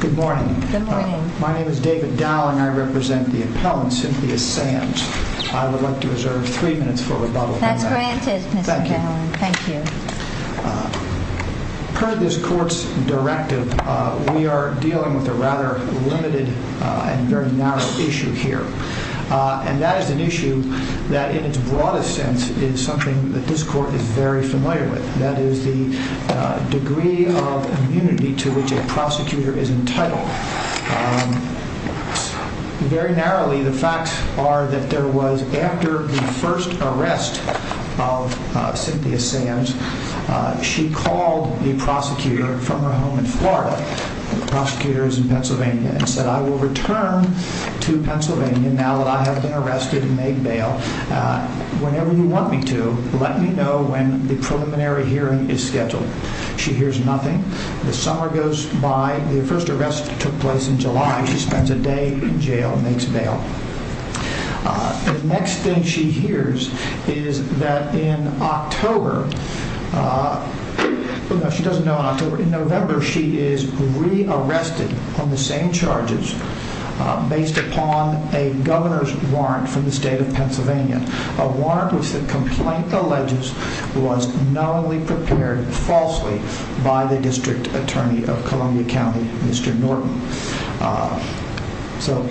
Good morning. My name is David Dow and I represent the appellant, Cynthia Sands. I would like to reserve three minutes for rebuttal. That's granted Mr. Dowling. Thank you. Per this court's directive, we are dealing with a rather limited and very narrow issue here. And that is an issue that in its broadest sense is something that this court is very familiar with. That is the degree of immunity to which a prosecutor is entitled. Very narrowly, the facts are that there was, after the first arrest of Cynthia Sands, she called the prosecutor from her home in Florida, the prosecutor is in Pennsylvania, and said, I will return to Pennsylvania now that I have been arrested and made bail. Whenever you want me to, let me know when the preliminary hearing is scheduled. She hears nothing. The summer goes by. The next thing she hears is that in October, she doesn't know in October, in November, she is re-arrested on the same charges based upon a governor's warrant from the state of Pennsylvania. A warrant which the complaint alleges was knowingly prepared falsely by the district attorney of Columbia County, Mr. Norton. So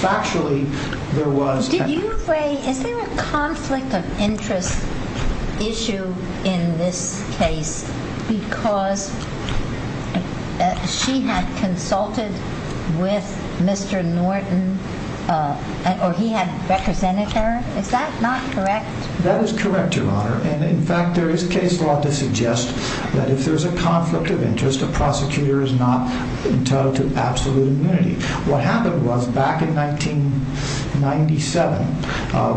factually, there was... Did you say, is there a conflict of interest issue in this case because she had consulted with Mr. Norton, or he had represented her? Is that not correct? That is correct, Your Honor. And in fact, there is case law to suggest that if there's a conflict of interest, a prosecutor is not entitled to absolute immunity. What happened was, back in 1997,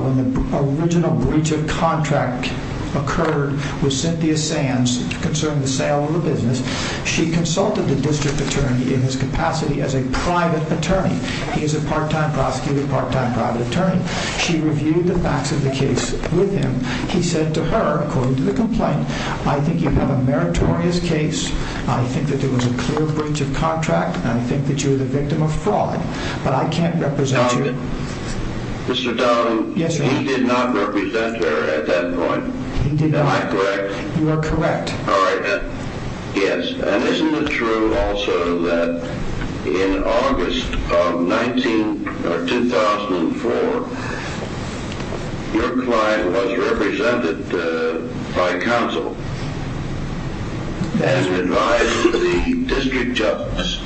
when the original breach of contract occurred with Cynthia Sands concerning the sale of the business, she consulted the district attorney in his capacity as a private attorney. He is a part-time prosecutor, part-time private attorney. She reviewed the facts of the case with him. He said to her, according to the complaint, I think you have a meritorious case. I think that there was a clear breach of contract, and I think that you are the victim of fraud, but I can't represent you. Mr. Donovan, he did not represent her at that point. Am I correct? You are correct. All right then. Yes, and isn't it true also that in August of 2004, your client was represented by counsel and advised the district justice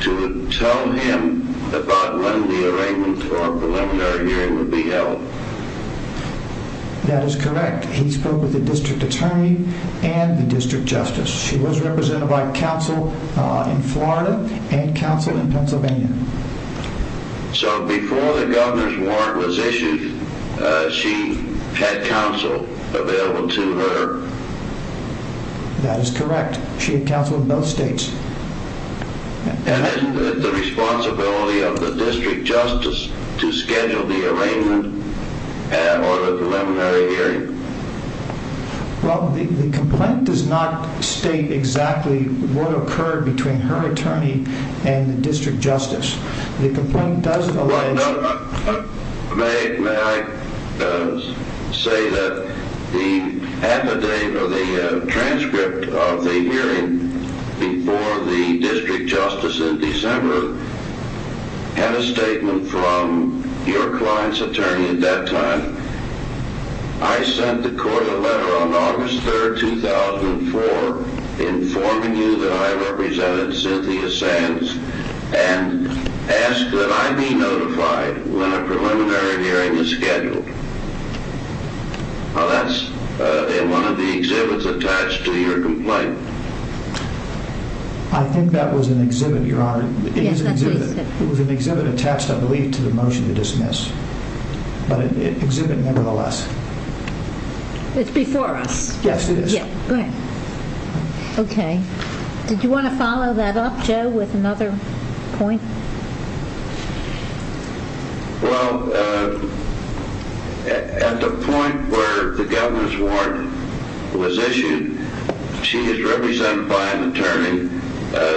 to tell him about when the arraignment for a preliminary hearing would be held? That is correct. He spoke with the district attorney and the district justice. She was represented by counsel in Florida and counsel in Pennsylvania. So before the governor's warrant was issued, she had counsel available to her? That is correct. She had counsel in both states. And isn't it the responsibility of the district justice to schedule the arraignment or the warrant occurred between her attorney and the district justice? The complaint does allege... May I say that the affidavit or the transcript of the hearing before the district justice in December had a statement from your client's attorney at that time. I sent the court a letter to you that I represented Cynthia Sands and asked that I be notified when a preliminary hearing is scheduled. Now that's in one of the exhibits attached to your complaint. I think that was an exhibit, Your Honor. Yes, that's what he said. It was an exhibit attached I believe to the motion to dismiss, but an exhibit nevertheless. It's before us. Yes, it is. Okay. Did you want to follow that up, Joe, with another point? Well, at the point where the governor's warrant was issued, she is represented by an attorney.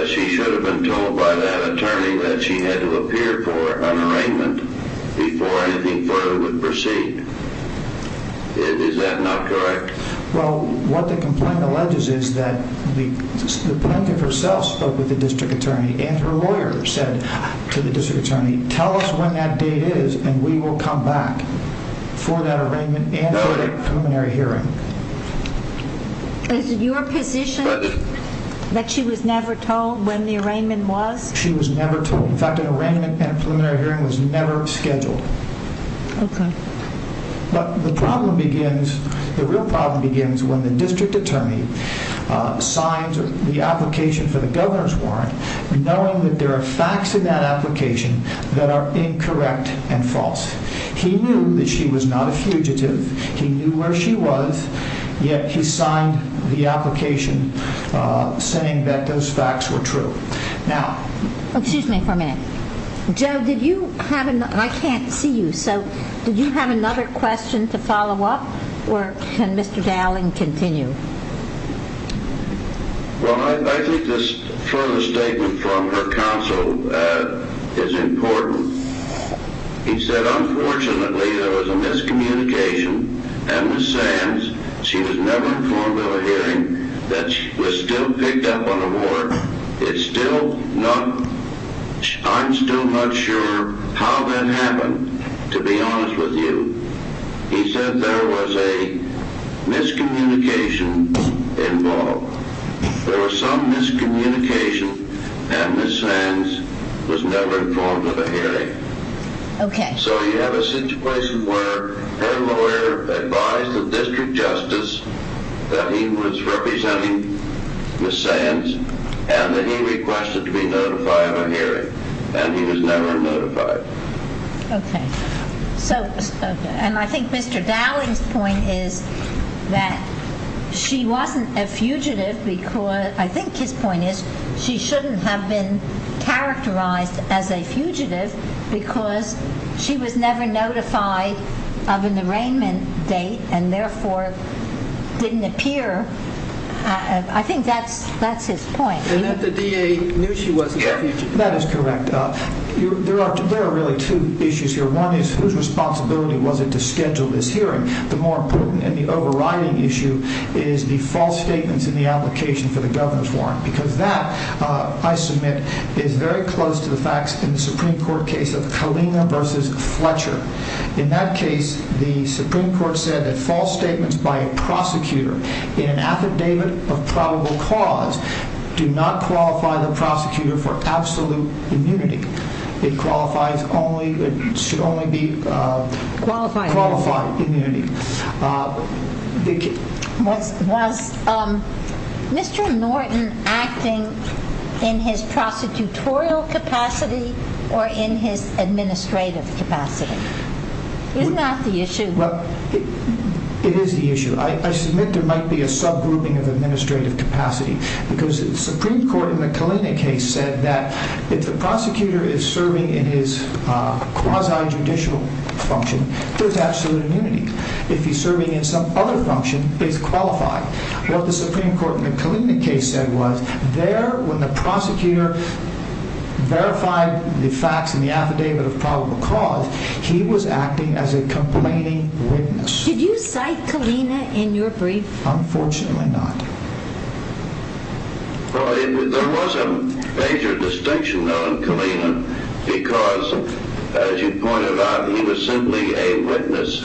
She should have been told by that attorney that she had to appear for an arraignment before anything further would proceed. Is that not correct? Well, what the complaint alleges is that the plaintiff herself spoke with the district attorney and her lawyer said to the district attorney, tell us when that date is and we will come back for that arraignment and for that preliminary hearing. Is it your position that she was never told when the arraignment was? She was never told. In fact, an arraignment and a preliminary hearing was never scheduled. Okay. But the problem begins, the real problem begins when the district attorney signs the application for the governor's warrant knowing that there are facts in that application that are incorrect and false. He knew that she was not a fugitive. He knew where she was, yet he signed the application saying that those facts were true. Now, excuse me for a minute. Joe, did you have another, I can't see you, so did you have another question to follow up or can Mr. Dowling continue? Well, I think this further statement from her counsel is important. He said, unfortunately, there was a miscommunication and Ms. Sands was never informed of a hearing that was still picked up on the warrant. It's still not, I'm still not sure how that happened, to be honest with you. He said there was a miscommunication involved. There was some miscommunication and Ms. Sands was never informed of a hearing. Okay. So you have a situation where her lawyer advised the district justice that he was representing Ms. Sands and that he requested to be notified of a hearing and he was never notified. Okay. So, and I think Mr. Dowling's point is that she wasn't a fugitive because, I think his point is she shouldn't have been characterized as a fugitive because she was never notified of an arraignment date and therefore didn't appear. I think that's his point. And that the DA knew she wasn't a fugitive. That is correct. There are really two issues here. One is whose responsibility was it to schedule this hearing? The more important and the overriding issue is the false statements in the application for the governor's warrant. Because that, I submit, is very close to the facts in the Supreme Court case of Kalina versus Fletcher. In that case, the Supreme Court said that false statements by a prosecutor in an affidavit of probable cause do not qualify the prosecutor for absolute immunity. It qualifies only, it should only be qualified immunity. Was Mr. Norton acting in his prosecutorial capacity or in his administrative capacity? Is that the issue? It is the issue. I submit there might be a subgrouping of administrative capacity because the Supreme Court in the Kalina case said that if the prosecutor is serving in his quasi-judicial function, there's absolute immunity. If he's serving in some other function, he's qualified. What the Supreme Court in the Kalina case said was, there, when the prosecutor verified the facts in the affidavit of probable cause, he was acting as a complaining witness. Did you cite Kalina in your brief? Unfortunately not. Well, there was a major distinction on Kalina because, as you pointed out, he was simply a witness.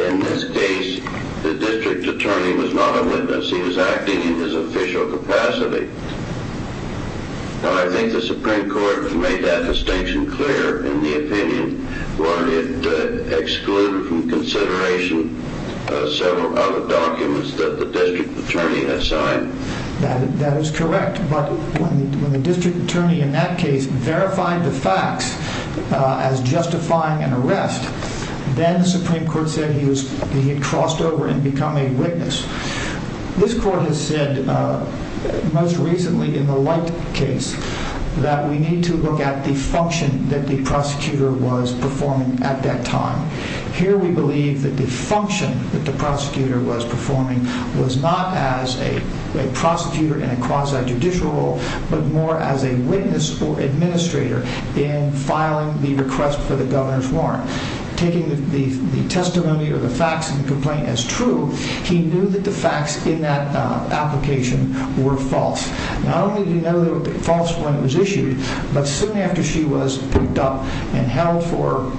In this case, the district attorney was not a witness. He was acting in his official capacity. I think the Supreme Court made that distinction clear in the opinion where it excluded from consideration several other documents that the district attorney had signed. That is correct, but when the district attorney in that case verified the facts as justifying an arrest, then the Supreme Court said he had crossed over and become a witness. This court has said, most recently in the Light case, that we need to look at the function that the prosecutor was performing at that time. Here we believe that the function that the prosecutor was performing was not as a prosecutor in a quasi-judicial role, but more as a witness or administrator in filing the request for the governor's warrant. Taking the testimony or the facts of the complaint as true, he knew that the facts in that application were false. Not only did he know that it was false when it was issued, but soon after she was picked up and held for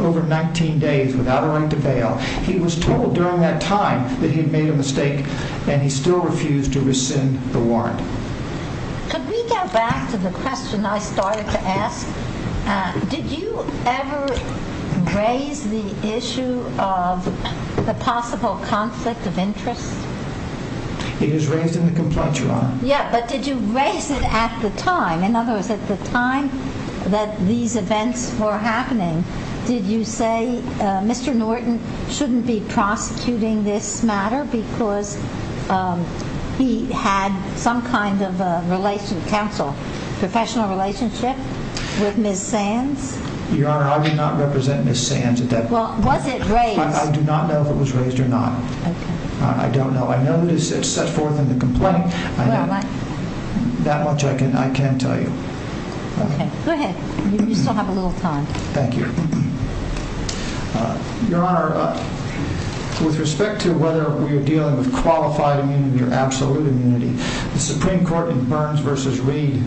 over 19 days without a right to bail, he was told during that time that he had made a mistake and he still refused to rescind the warrant. Could we go back to the question I started to ask? Did you ever raise the issue of the possible conflict of interest? It is raised in the complaint, Your Honor. Yeah, but did you raise it at the time? In other words, at the time that these events were happening, did you say, Mr. Norton shouldn't be prosecuting this matter because he had some kind of relationship, counsel, professional relationship with Ms. Sands? Your Honor, I did not represent Ms. Sands at that point. Was it raised? I do not know if it was raised or not. I don't know. I know it is set forth in the complaint. That much I can tell you. Okay, go ahead. You still have a little time. Thank you. Your Honor, with respect to whether we are dealing with qualified immunity or absolute immunity, the Supreme Court in Burns v. Reed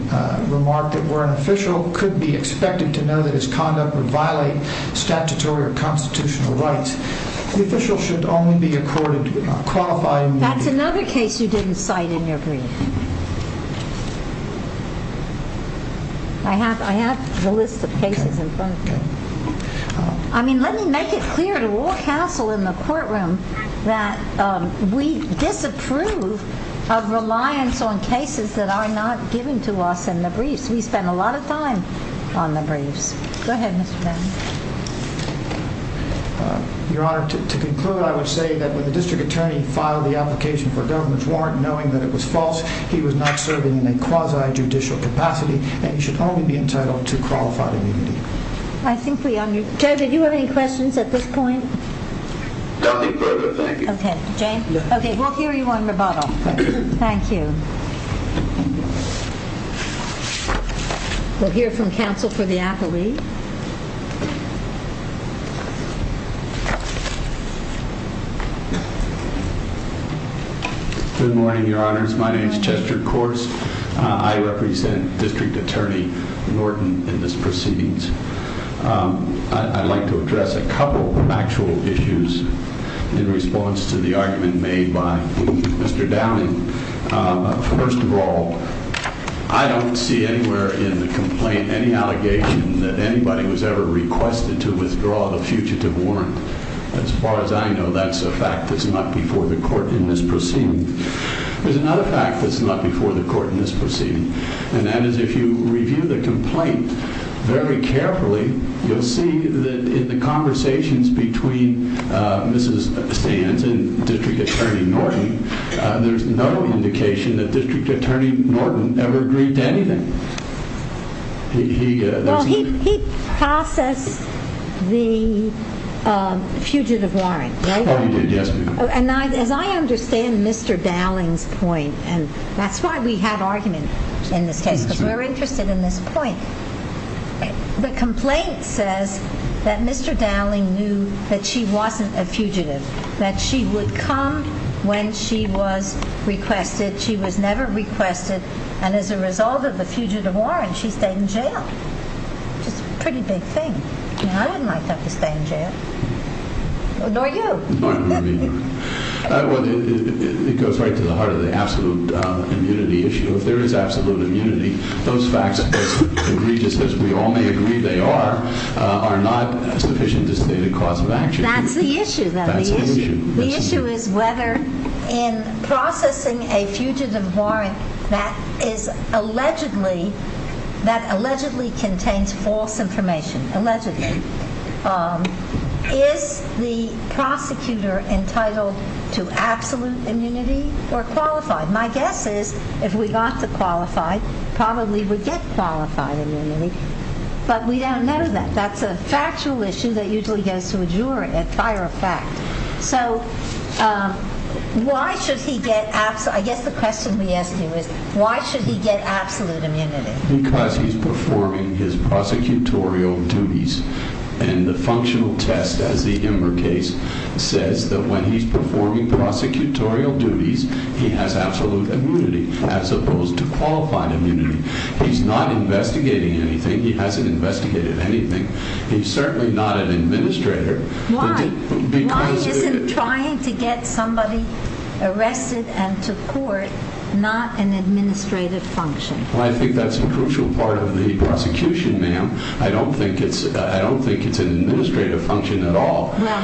remarked that where an official could be expected to know that his conduct would violate statutory or constitutional rights, the official should only be accorded qualified immunity. That's another case you didn't cite in your brief. I have the list of cases in front of me. Okay. I mean, let me make it clear to all counsel in the courtroom that we disapprove of reliance on cases that are not given to us in the briefs. We spend a lot of time on the briefs. Go ahead, Mr. Brown. Your Honor, to conclude, I would say that when the district attorney filed the application for a government warrant knowing that it was false, he was not serving in a quasi-judicial capacity and he should only be entitled to qualified immunity. I think we understood. Joe, did you have any questions at this point? Nothing further, thank you. Okay. James? Yes. Okay, we'll hear you on rebuttal. Thank you. We'll hear from counsel for the athlete. Good morning, Your Honors. My name is Chester Corse. I represent District Attorney Norton in this proceedings. I'd like to address a couple of actual issues in response to the argument made by Mr. Downing. First of all, I don't see anywhere in the complaint any allegation that anybody was ever requested to withdraw the fugitive warrant. As far as I know, that's a fact that's not before the court in this proceeding. There's another fact that's not before the court in this proceeding, and that is if you look carefully, you'll see that in the conversations between Mrs. Stanz and District Attorney Norton, there's no indication that District Attorney Norton ever agreed to anything. Well, he processed the fugitive warrant, right? Oh, he did, yes. And as I understand Mr. Downing's point, and that's why we had argument in this case, because we're interested in this point, the complaint says that Mr. Downing knew that she wasn't a fugitive, that she would come when she was requested. She was never requested. And as a result of the fugitive warrant, she stayed in jail, which is a pretty big thing. I wouldn't like that to stay in jail, nor you. It goes right to the heart of the absolute immunity issue. If there is absolute immunity, those facts, as egregious as we all may agree they are, are not sufficient to state a cause of action. That's the issue, though. That's the issue. The issue is whether in processing a fugitive warrant that allegedly contains false information, allegedly, is the prosecutor entitled to absolute immunity or qualified? My guess is, if we got to qualified, probably we'd get qualified immunity, but we don't know that. That's a factual issue that usually goes to a juror at fire effect. So, why should he get, I guess the question we ask you is, why should he get absolute immunity? Because he's performing his prosecutorial duties, and the functional test, as the Ember case says, that when he's performing prosecutorial duties, he has absolute immunity, as opposed to qualified immunity. He's not investigating anything. He hasn't investigated anything. He's certainly not an administrator. Why? Why isn't trying to get somebody arrested and to court not an administrative function? Well, I think that's a crucial part of the prosecution, ma'am. I don't think it's an administrative function at all. Well,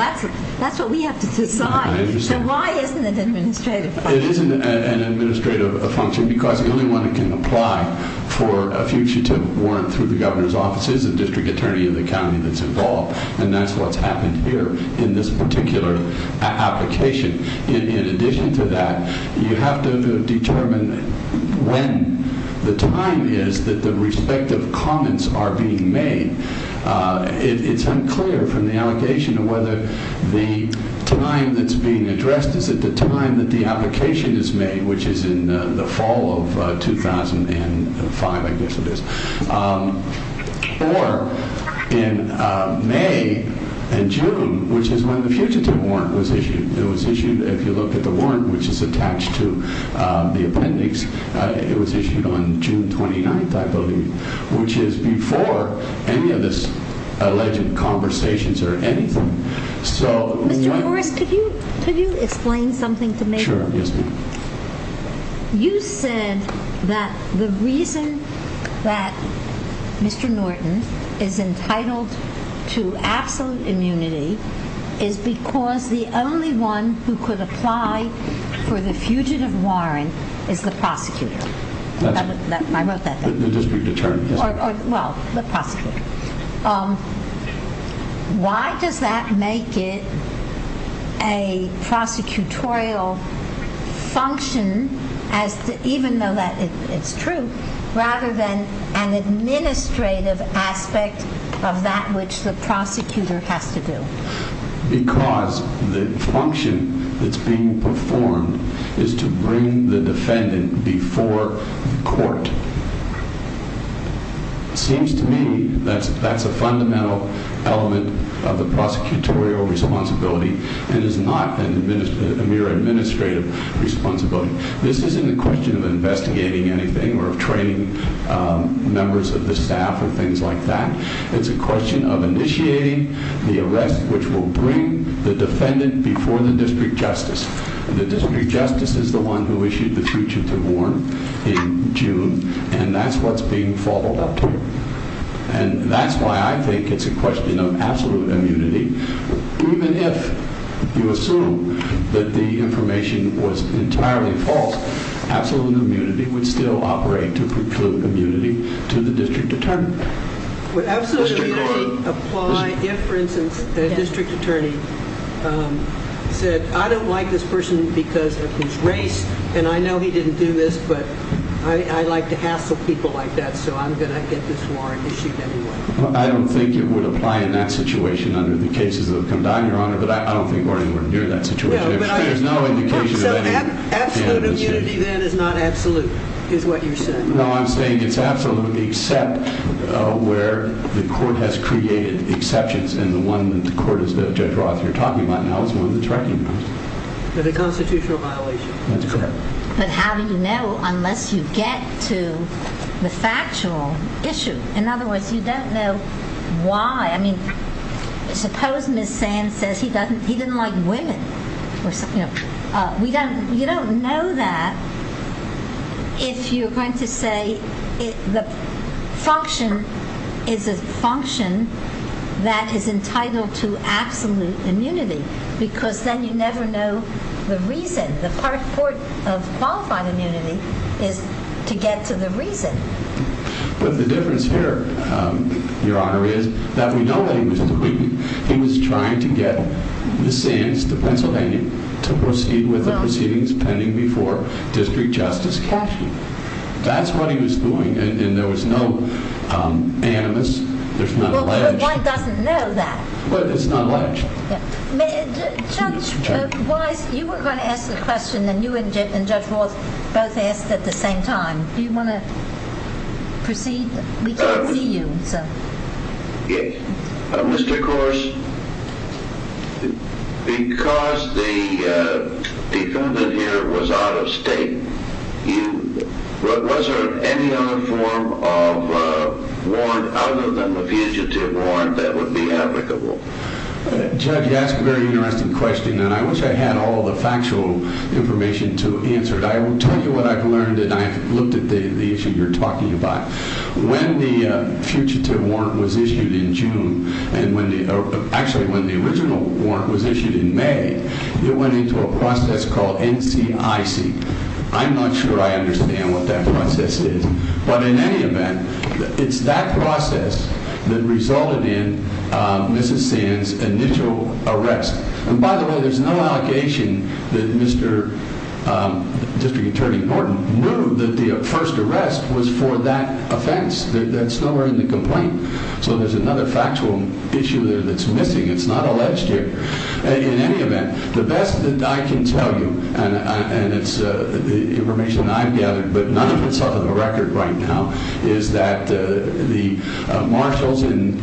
that's what we have to decide. So, why isn't it an administrative function? It isn't an administrative function because the only one that can apply for a fugitive warrant through the governor's office is a district attorney in the county that's involved, and that's what's happened here in this particular application. In addition to that, you have to determine when the time is that the respective comments are being made. It's unclear from the allegation whether the time that's being addressed is at the time that the application is made, which is in the fall of 2005, I guess it is, or in May and June, which is when the fugitive warrant was issued. It was issued, if you look at the warrant, which is attached to the appendix, it was issued on June 29th, I believe, which is before any of this alleged conversations or anything. Mr. Morris, could you explain something to me? Sure. Yes, ma'am. You said that the reason that Mr. Norton is entitled to absolute immunity is because the only one who could apply for the fugitive warrant is the prosecutor. I wrote that down. The district attorney. Well, the prosecutor. Why does that make it a prosecutorial function, even though it's true, rather than an administrative aspect of that which the prosecutor has to do? Because the function that's being performed is to bring the defendant before the court. It seems to me that's a fundamental element of the prosecutorial responsibility and is not a mere administrative responsibility. This isn't a question of investigating anything or of training members of the staff or things like that. It's a question of initiating the arrest which will bring the defendant before the district justice. The district justice is the one who issued the fugitive warrant in June and that's what's being followed up to. That's why I think it's a question of absolute immunity. Even if you assume that the information was entirely false, absolute immunity would still operate to preclude immunity to the district attorney. Would absolute immunity apply if, for instance, the district attorney said, I don't like this person because of his race and I know he didn't do this, but I like to hassle people like that so I'm going to get this warrant issued anyway. I don't think it would apply in that situation under the cases that have come down, Your Honor, but I don't think we're anywhere near that situation. So absolute immunity then is not absolute, is what you're saying. No, I'm saying it's absolute except where the court has created exceptions and the one that the court, as Judge Roth, you're talking about now is one that's recognized. It's a constitutional violation. That's correct. But how do you know unless you get to the factual issue? In other words, you don't know why. I mean, suppose Ms. Sand says he doesn't like women. You don't know that if you're going to say the function is a function that is entitled to absolute immunity because then you never know the reason. The court of qualified immunity is to get to the reason. But the difference here, Your Honor, is that we know that he was depleted. He was trying to get Ms. Sand, the Pennsylvanian, to proceed with the proceedings pending before District Justice Cashman. That's what he was doing and there was no animus. One doesn't know that. But it's not alleged. Judge Weiss, you were going to ask the question and you and Judge Roth both asked at the same time. Do you want to proceed? We can't see you. Mr. Corse, because the defendant here was out of state, was there any other form of warrant other than the fugitive warrant that would be applicable? Judge, you asked a very interesting question and I wish I had all the factual information to answer it. I will tell you what I've learned and I've looked at the issue you're talking about. When the fugitive warrant was issued in June and when the original warrant was issued in May, it went into a process called NCIC. I'm not sure I understand what that process is. But in any event, it's that process that resulted in Mrs. Sand's initial arrest. And by the way, there's no allegation that Mr. District Attorney Norton knew that the first arrest was for that offense. That's nowhere in the complaint. So there's another factual issue there that's missing. It's not alleged here. In any event, the best that I can tell you and it's information I've gathered, but none of it's off of the record right now, is that the marshals in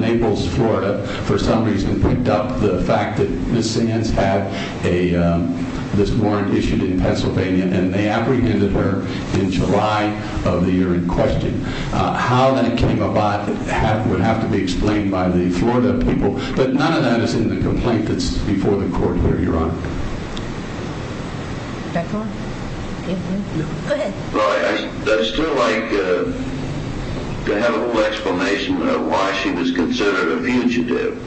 Naples, Florida for some reason picked up the fact that Mrs. Sand had this warrant issued in Pennsylvania and they apprehended her in July of the year in question. How that came about would have to be explained by the Florida people. But none of that is in the complaint that's before the court here, Your Honor. Go ahead. I'd still like to have a little explanation of why she was considered a fugitive.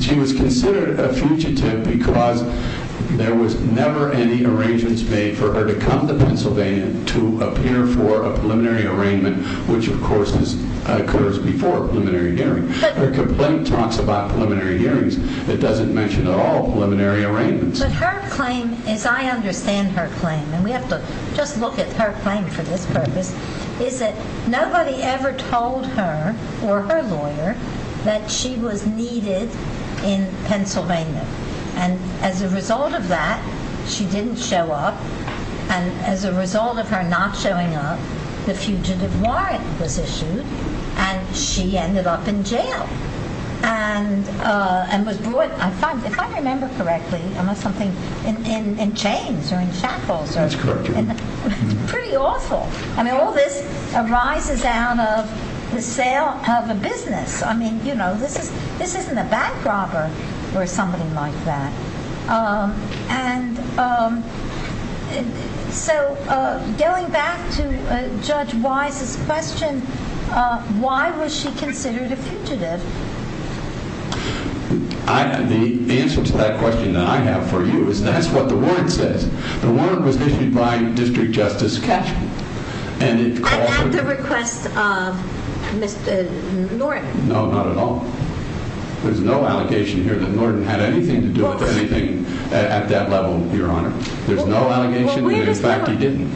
She was considered a fugitive because there was never any arrangements made for her to come to Pennsylvania to appear for a preliminary arraignment which of course occurs before a preliminary hearing. Her complaint talks about preliminary hearings. It doesn't mention at all preliminary arraignments. I understand her claim and we have to just look at her claim for this purpose is that nobody ever told her or her lawyer that she was needed in Pennsylvania and as a result of that she didn't show up and as a result of her not showing up the fugitive warrant was issued and she ended up in jail. And was brought if I remember correctly in chains or in shackles pretty awful. All this arises out of the sale of a business. This isn't a bank robber or somebody like that. So going back to Judge Wise's question why was she considered a fugitive? The answer to that question that I have for you is that's what the warrant says. The warrant was issued by District Justice Cashman and it called At the request of Mr. Norton. No, not at all. There's no allegation here that Norton had anything to do with anything at that level, Your Honor. There's no allegation that in fact he didn't.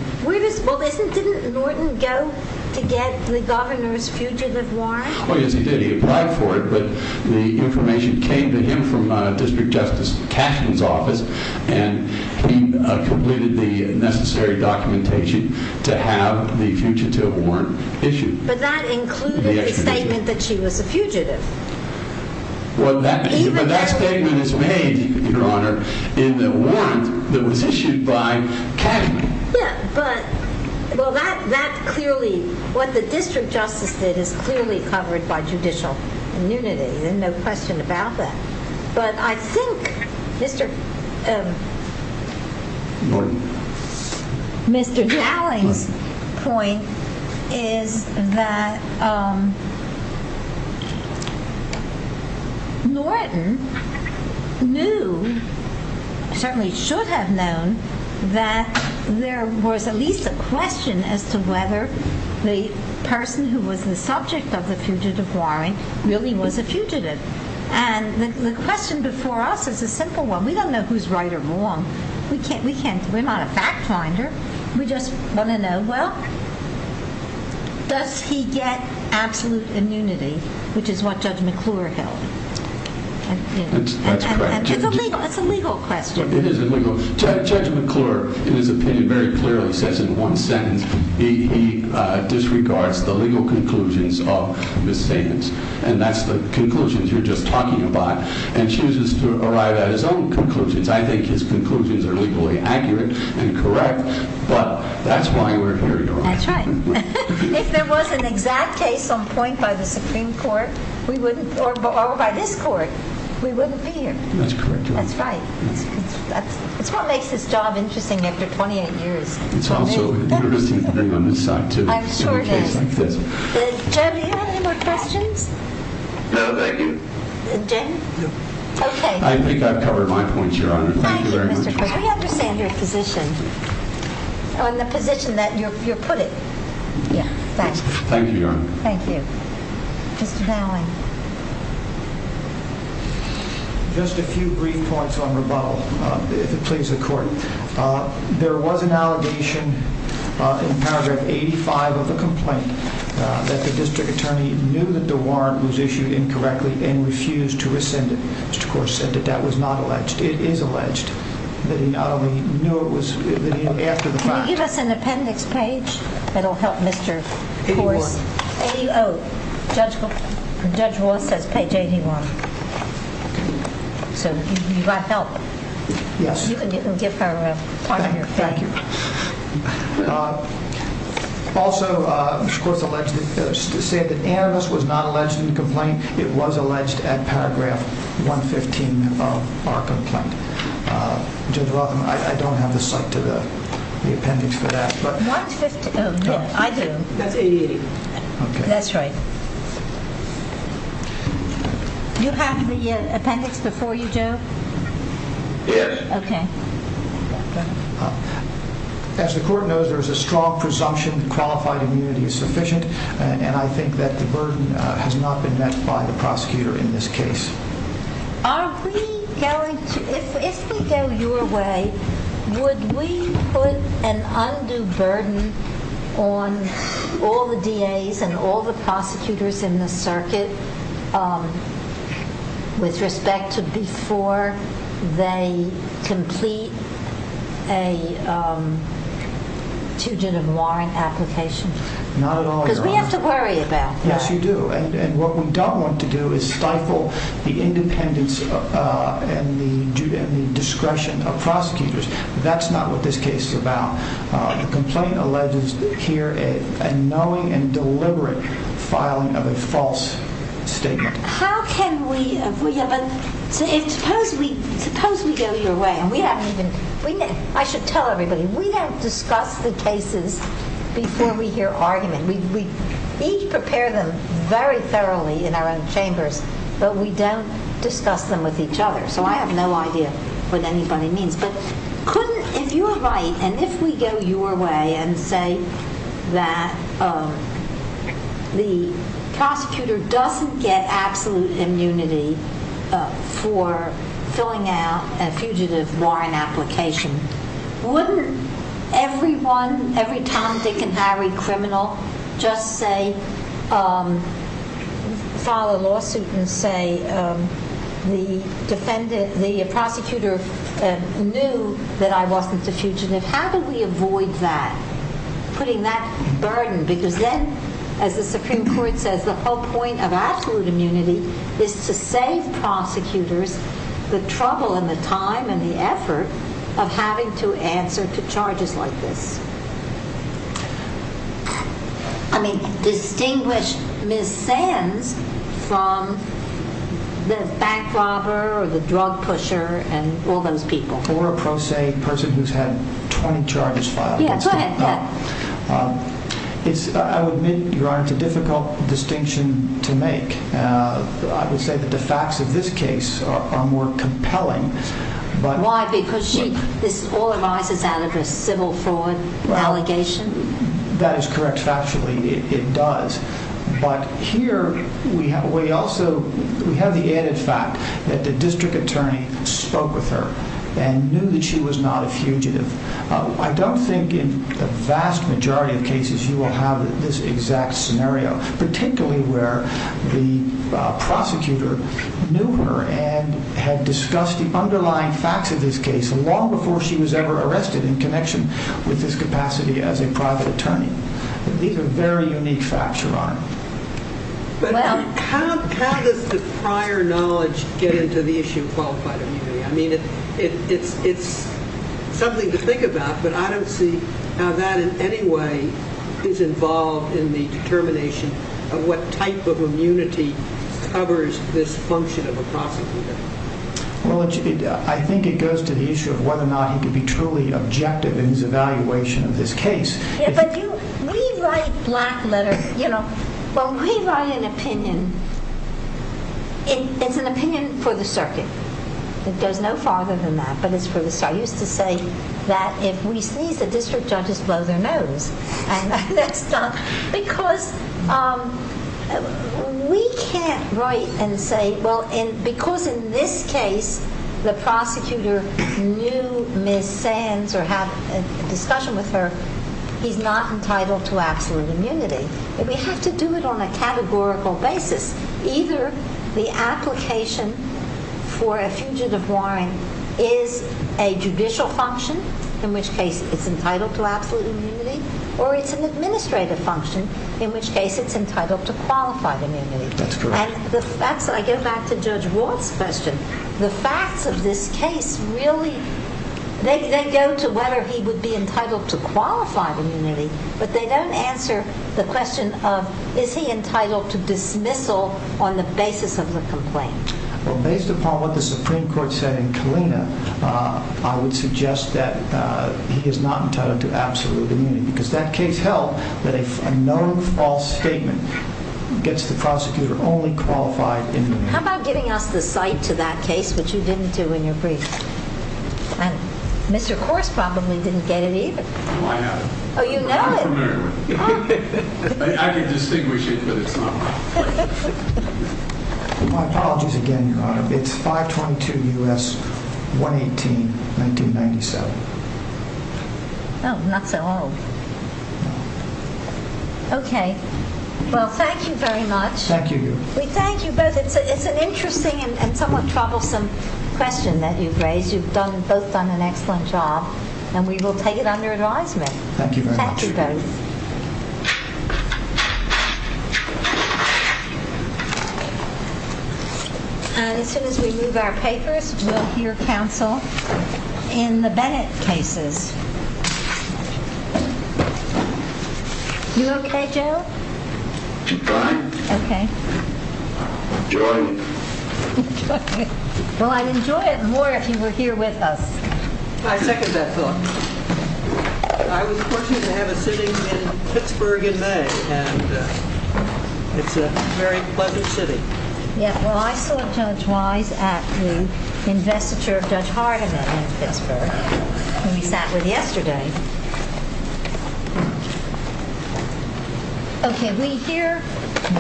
Didn't Norton go to get the governor's fugitive warrant? Oh yes he did, he applied for it but the information came to him from District Justice Cashman's office and he completed the necessary documentation to have the fugitive warrant issued. But that included a statement that she was a fugitive. Well that statement is made Your Honor, in the warrant that was issued by Cashman. Yeah, but that clearly what the District Justice did is clearly covered by judicial immunity, there's no question about that. But I think Mr. Norton Mr. Dowling's that Norton knew certainly should have known that there was at least a question as to whether the person who was the subject of the fugitive warrant really was a fugitive. The question before us is a simple one we don't know who's right or wrong we're not a fact finder we just want to know well does he get absolute immunity which is what Judge McClure held That's correct It's a legal question Judge McClure in his opinion very clearly says in one sentence he disregards the legal conclusions of his statements and that's the conclusions you're just talking about and chooses to arrive at his own conclusions, I think his conclusions are legally accurate and correct but that's why we're here Your Honor That's right If there was an exact case on point by the Supreme Court we wouldn't or by this court, we wouldn't be here That's correct That's right It's what makes this job interesting after 28 years It's also interesting to bring on this side too I'm sure it is Jim, do you have any more questions? No, thank you Jim? I think I've covered my points, Your Honor Thank you very much We understand your position on the position that you're putting Thank you, Your Honor Thank you Mr. Dowling Just a few brief points on rebuttal if it pleases the court There was an allegation in paragraph 85 of a complaint that the district attorney knew that the warrant was issued incorrectly and refused to rescind it That was not alleged It is alleged Can you give us an appendix page? It will help Mr. A.O. Judge Roth says page 81 So you've got help Yes You can give her part of your thing Thank you Also Mr. Court has said that Anabus was not alleged in the complaint It was alleged at paragraph 115 of our complaint Judge Roth, I don't have the site to the appendix for that I do That's 880 That's right Do you have the appendix before you, Joe? Yes As the court knows there is a strong presumption qualified immunity is sufficient and I think that the burden has not been met by the prosecutor in this case If we go your way would we put an undue burden on all the DA's and all the prosecutors in the circuit with respect to before they complete a Tugendham Warrant application Not at all We have to worry about What we don't want to do is stifle the independence and the discretion of prosecutors That's not what this case is about The complaint alleges a knowing and deliberate filing of a false statement How can we Suppose we go your way I should tell everybody We don't discuss the cases before we hear argument We each prepare them very thoroughly in our own chambers but we don't discuss them with each other I have no idea what anybody means If you are right and if we go your way and say that the prosecutor doesn't get absolute immunity for filling out a fugitive warrant application Wouldn't everyone, every Tom, Dick and Harry criminal just say file a lawsuit and say the prosecutor knew that I wasn't a fugitive How do we avoid that? Putting that burden because then, as the Supreme Court says the whole point of absolute immunity is to save prosecutors the trouble and the time and the effort of having to answer to charges like this Distinguish Ms. Sands from the bank robber or the drug pusher Or a pro se person who's had 20 charges filed I would admit Your Honor, it's a difficult distinction to make I would say that the facts of this case are more compelling Why? Because she this all arises out of her civil fraud allegation That is correct factually It does But here, we also have the added fact that the district attorney spoke with her and knew that she was not a fugitive I don't think in the vast majority of cases you will have this exact scenario particularly where the prosecutor knew her and had discussed the underlying facts of this case long before she was ever arrested in connection with this capacity as a private attorney These are very unique facts, Your Honor But how does the prior knowledge get into the issue of qualified immunity I mean, it's something to think about but I don't see how that in any way is involved in the determination of what type of immunity covers this function of a prosecutor Well, I think it goes to the issue of whether or not he can be truly objective in his evaluation of this case We write black letters We write an opinion It's an opinion for the circuit It goes no farther than that I used to say that if we sneeze the district judges blow their nose and that's done because we can't write and say because in this case the prosecutor knew Ms. Sands or had a discussion with her he's not entitled to absolute immunity. We have to do it on a categorical basis Either the application for a fugitive warrant is a judicial function, in which case it's entitled to absolute immunity or it's an administrative function in which case it's entitled to qualified immunity That's correct I go back to Judge Watt's question The facts of this case really, they go to whether he would be entitled to qualified immunity, but they don't answer the question of is he entitled to dismissal on the basis of the complaint Based upon what the Supreme Court said in Kalina I would suggest that he is not entitled to absolute immunity because that case held that a known false statement gets the prosecutor only qualified immunity How about giving us the site to that case which you didn't do in your brief Mr. Corse probably didn't get it either I know it I can distinguish it but it's not my question My apologies again, Your Honor It's 522 U.S. 118 1997 Oh, not so old Okay Well, thank you very much We thank you both It's an interesting and somewhat troublesome question that you've raised You've both done an excellent job and we will take it under advisement Thank you very much As soon as we move our papers we'll hear counsel in the Bennett cases You okay, Joe? I'm fine I'm enjoying it Well, I'd enjoy it more if you were here with us I second that thought I was fortunate to have a sitting in Pittsburgh in May It's a very pleasant sitting Well, I saw Judge Wise at the investiture of Judge Hardiman in Pittsburgh when we sat with yesterday Thank you Okay, we hear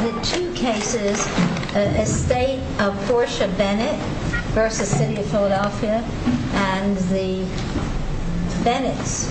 the two cases Estate of Portia Bennett versus City of Philadelphia and the Bennett's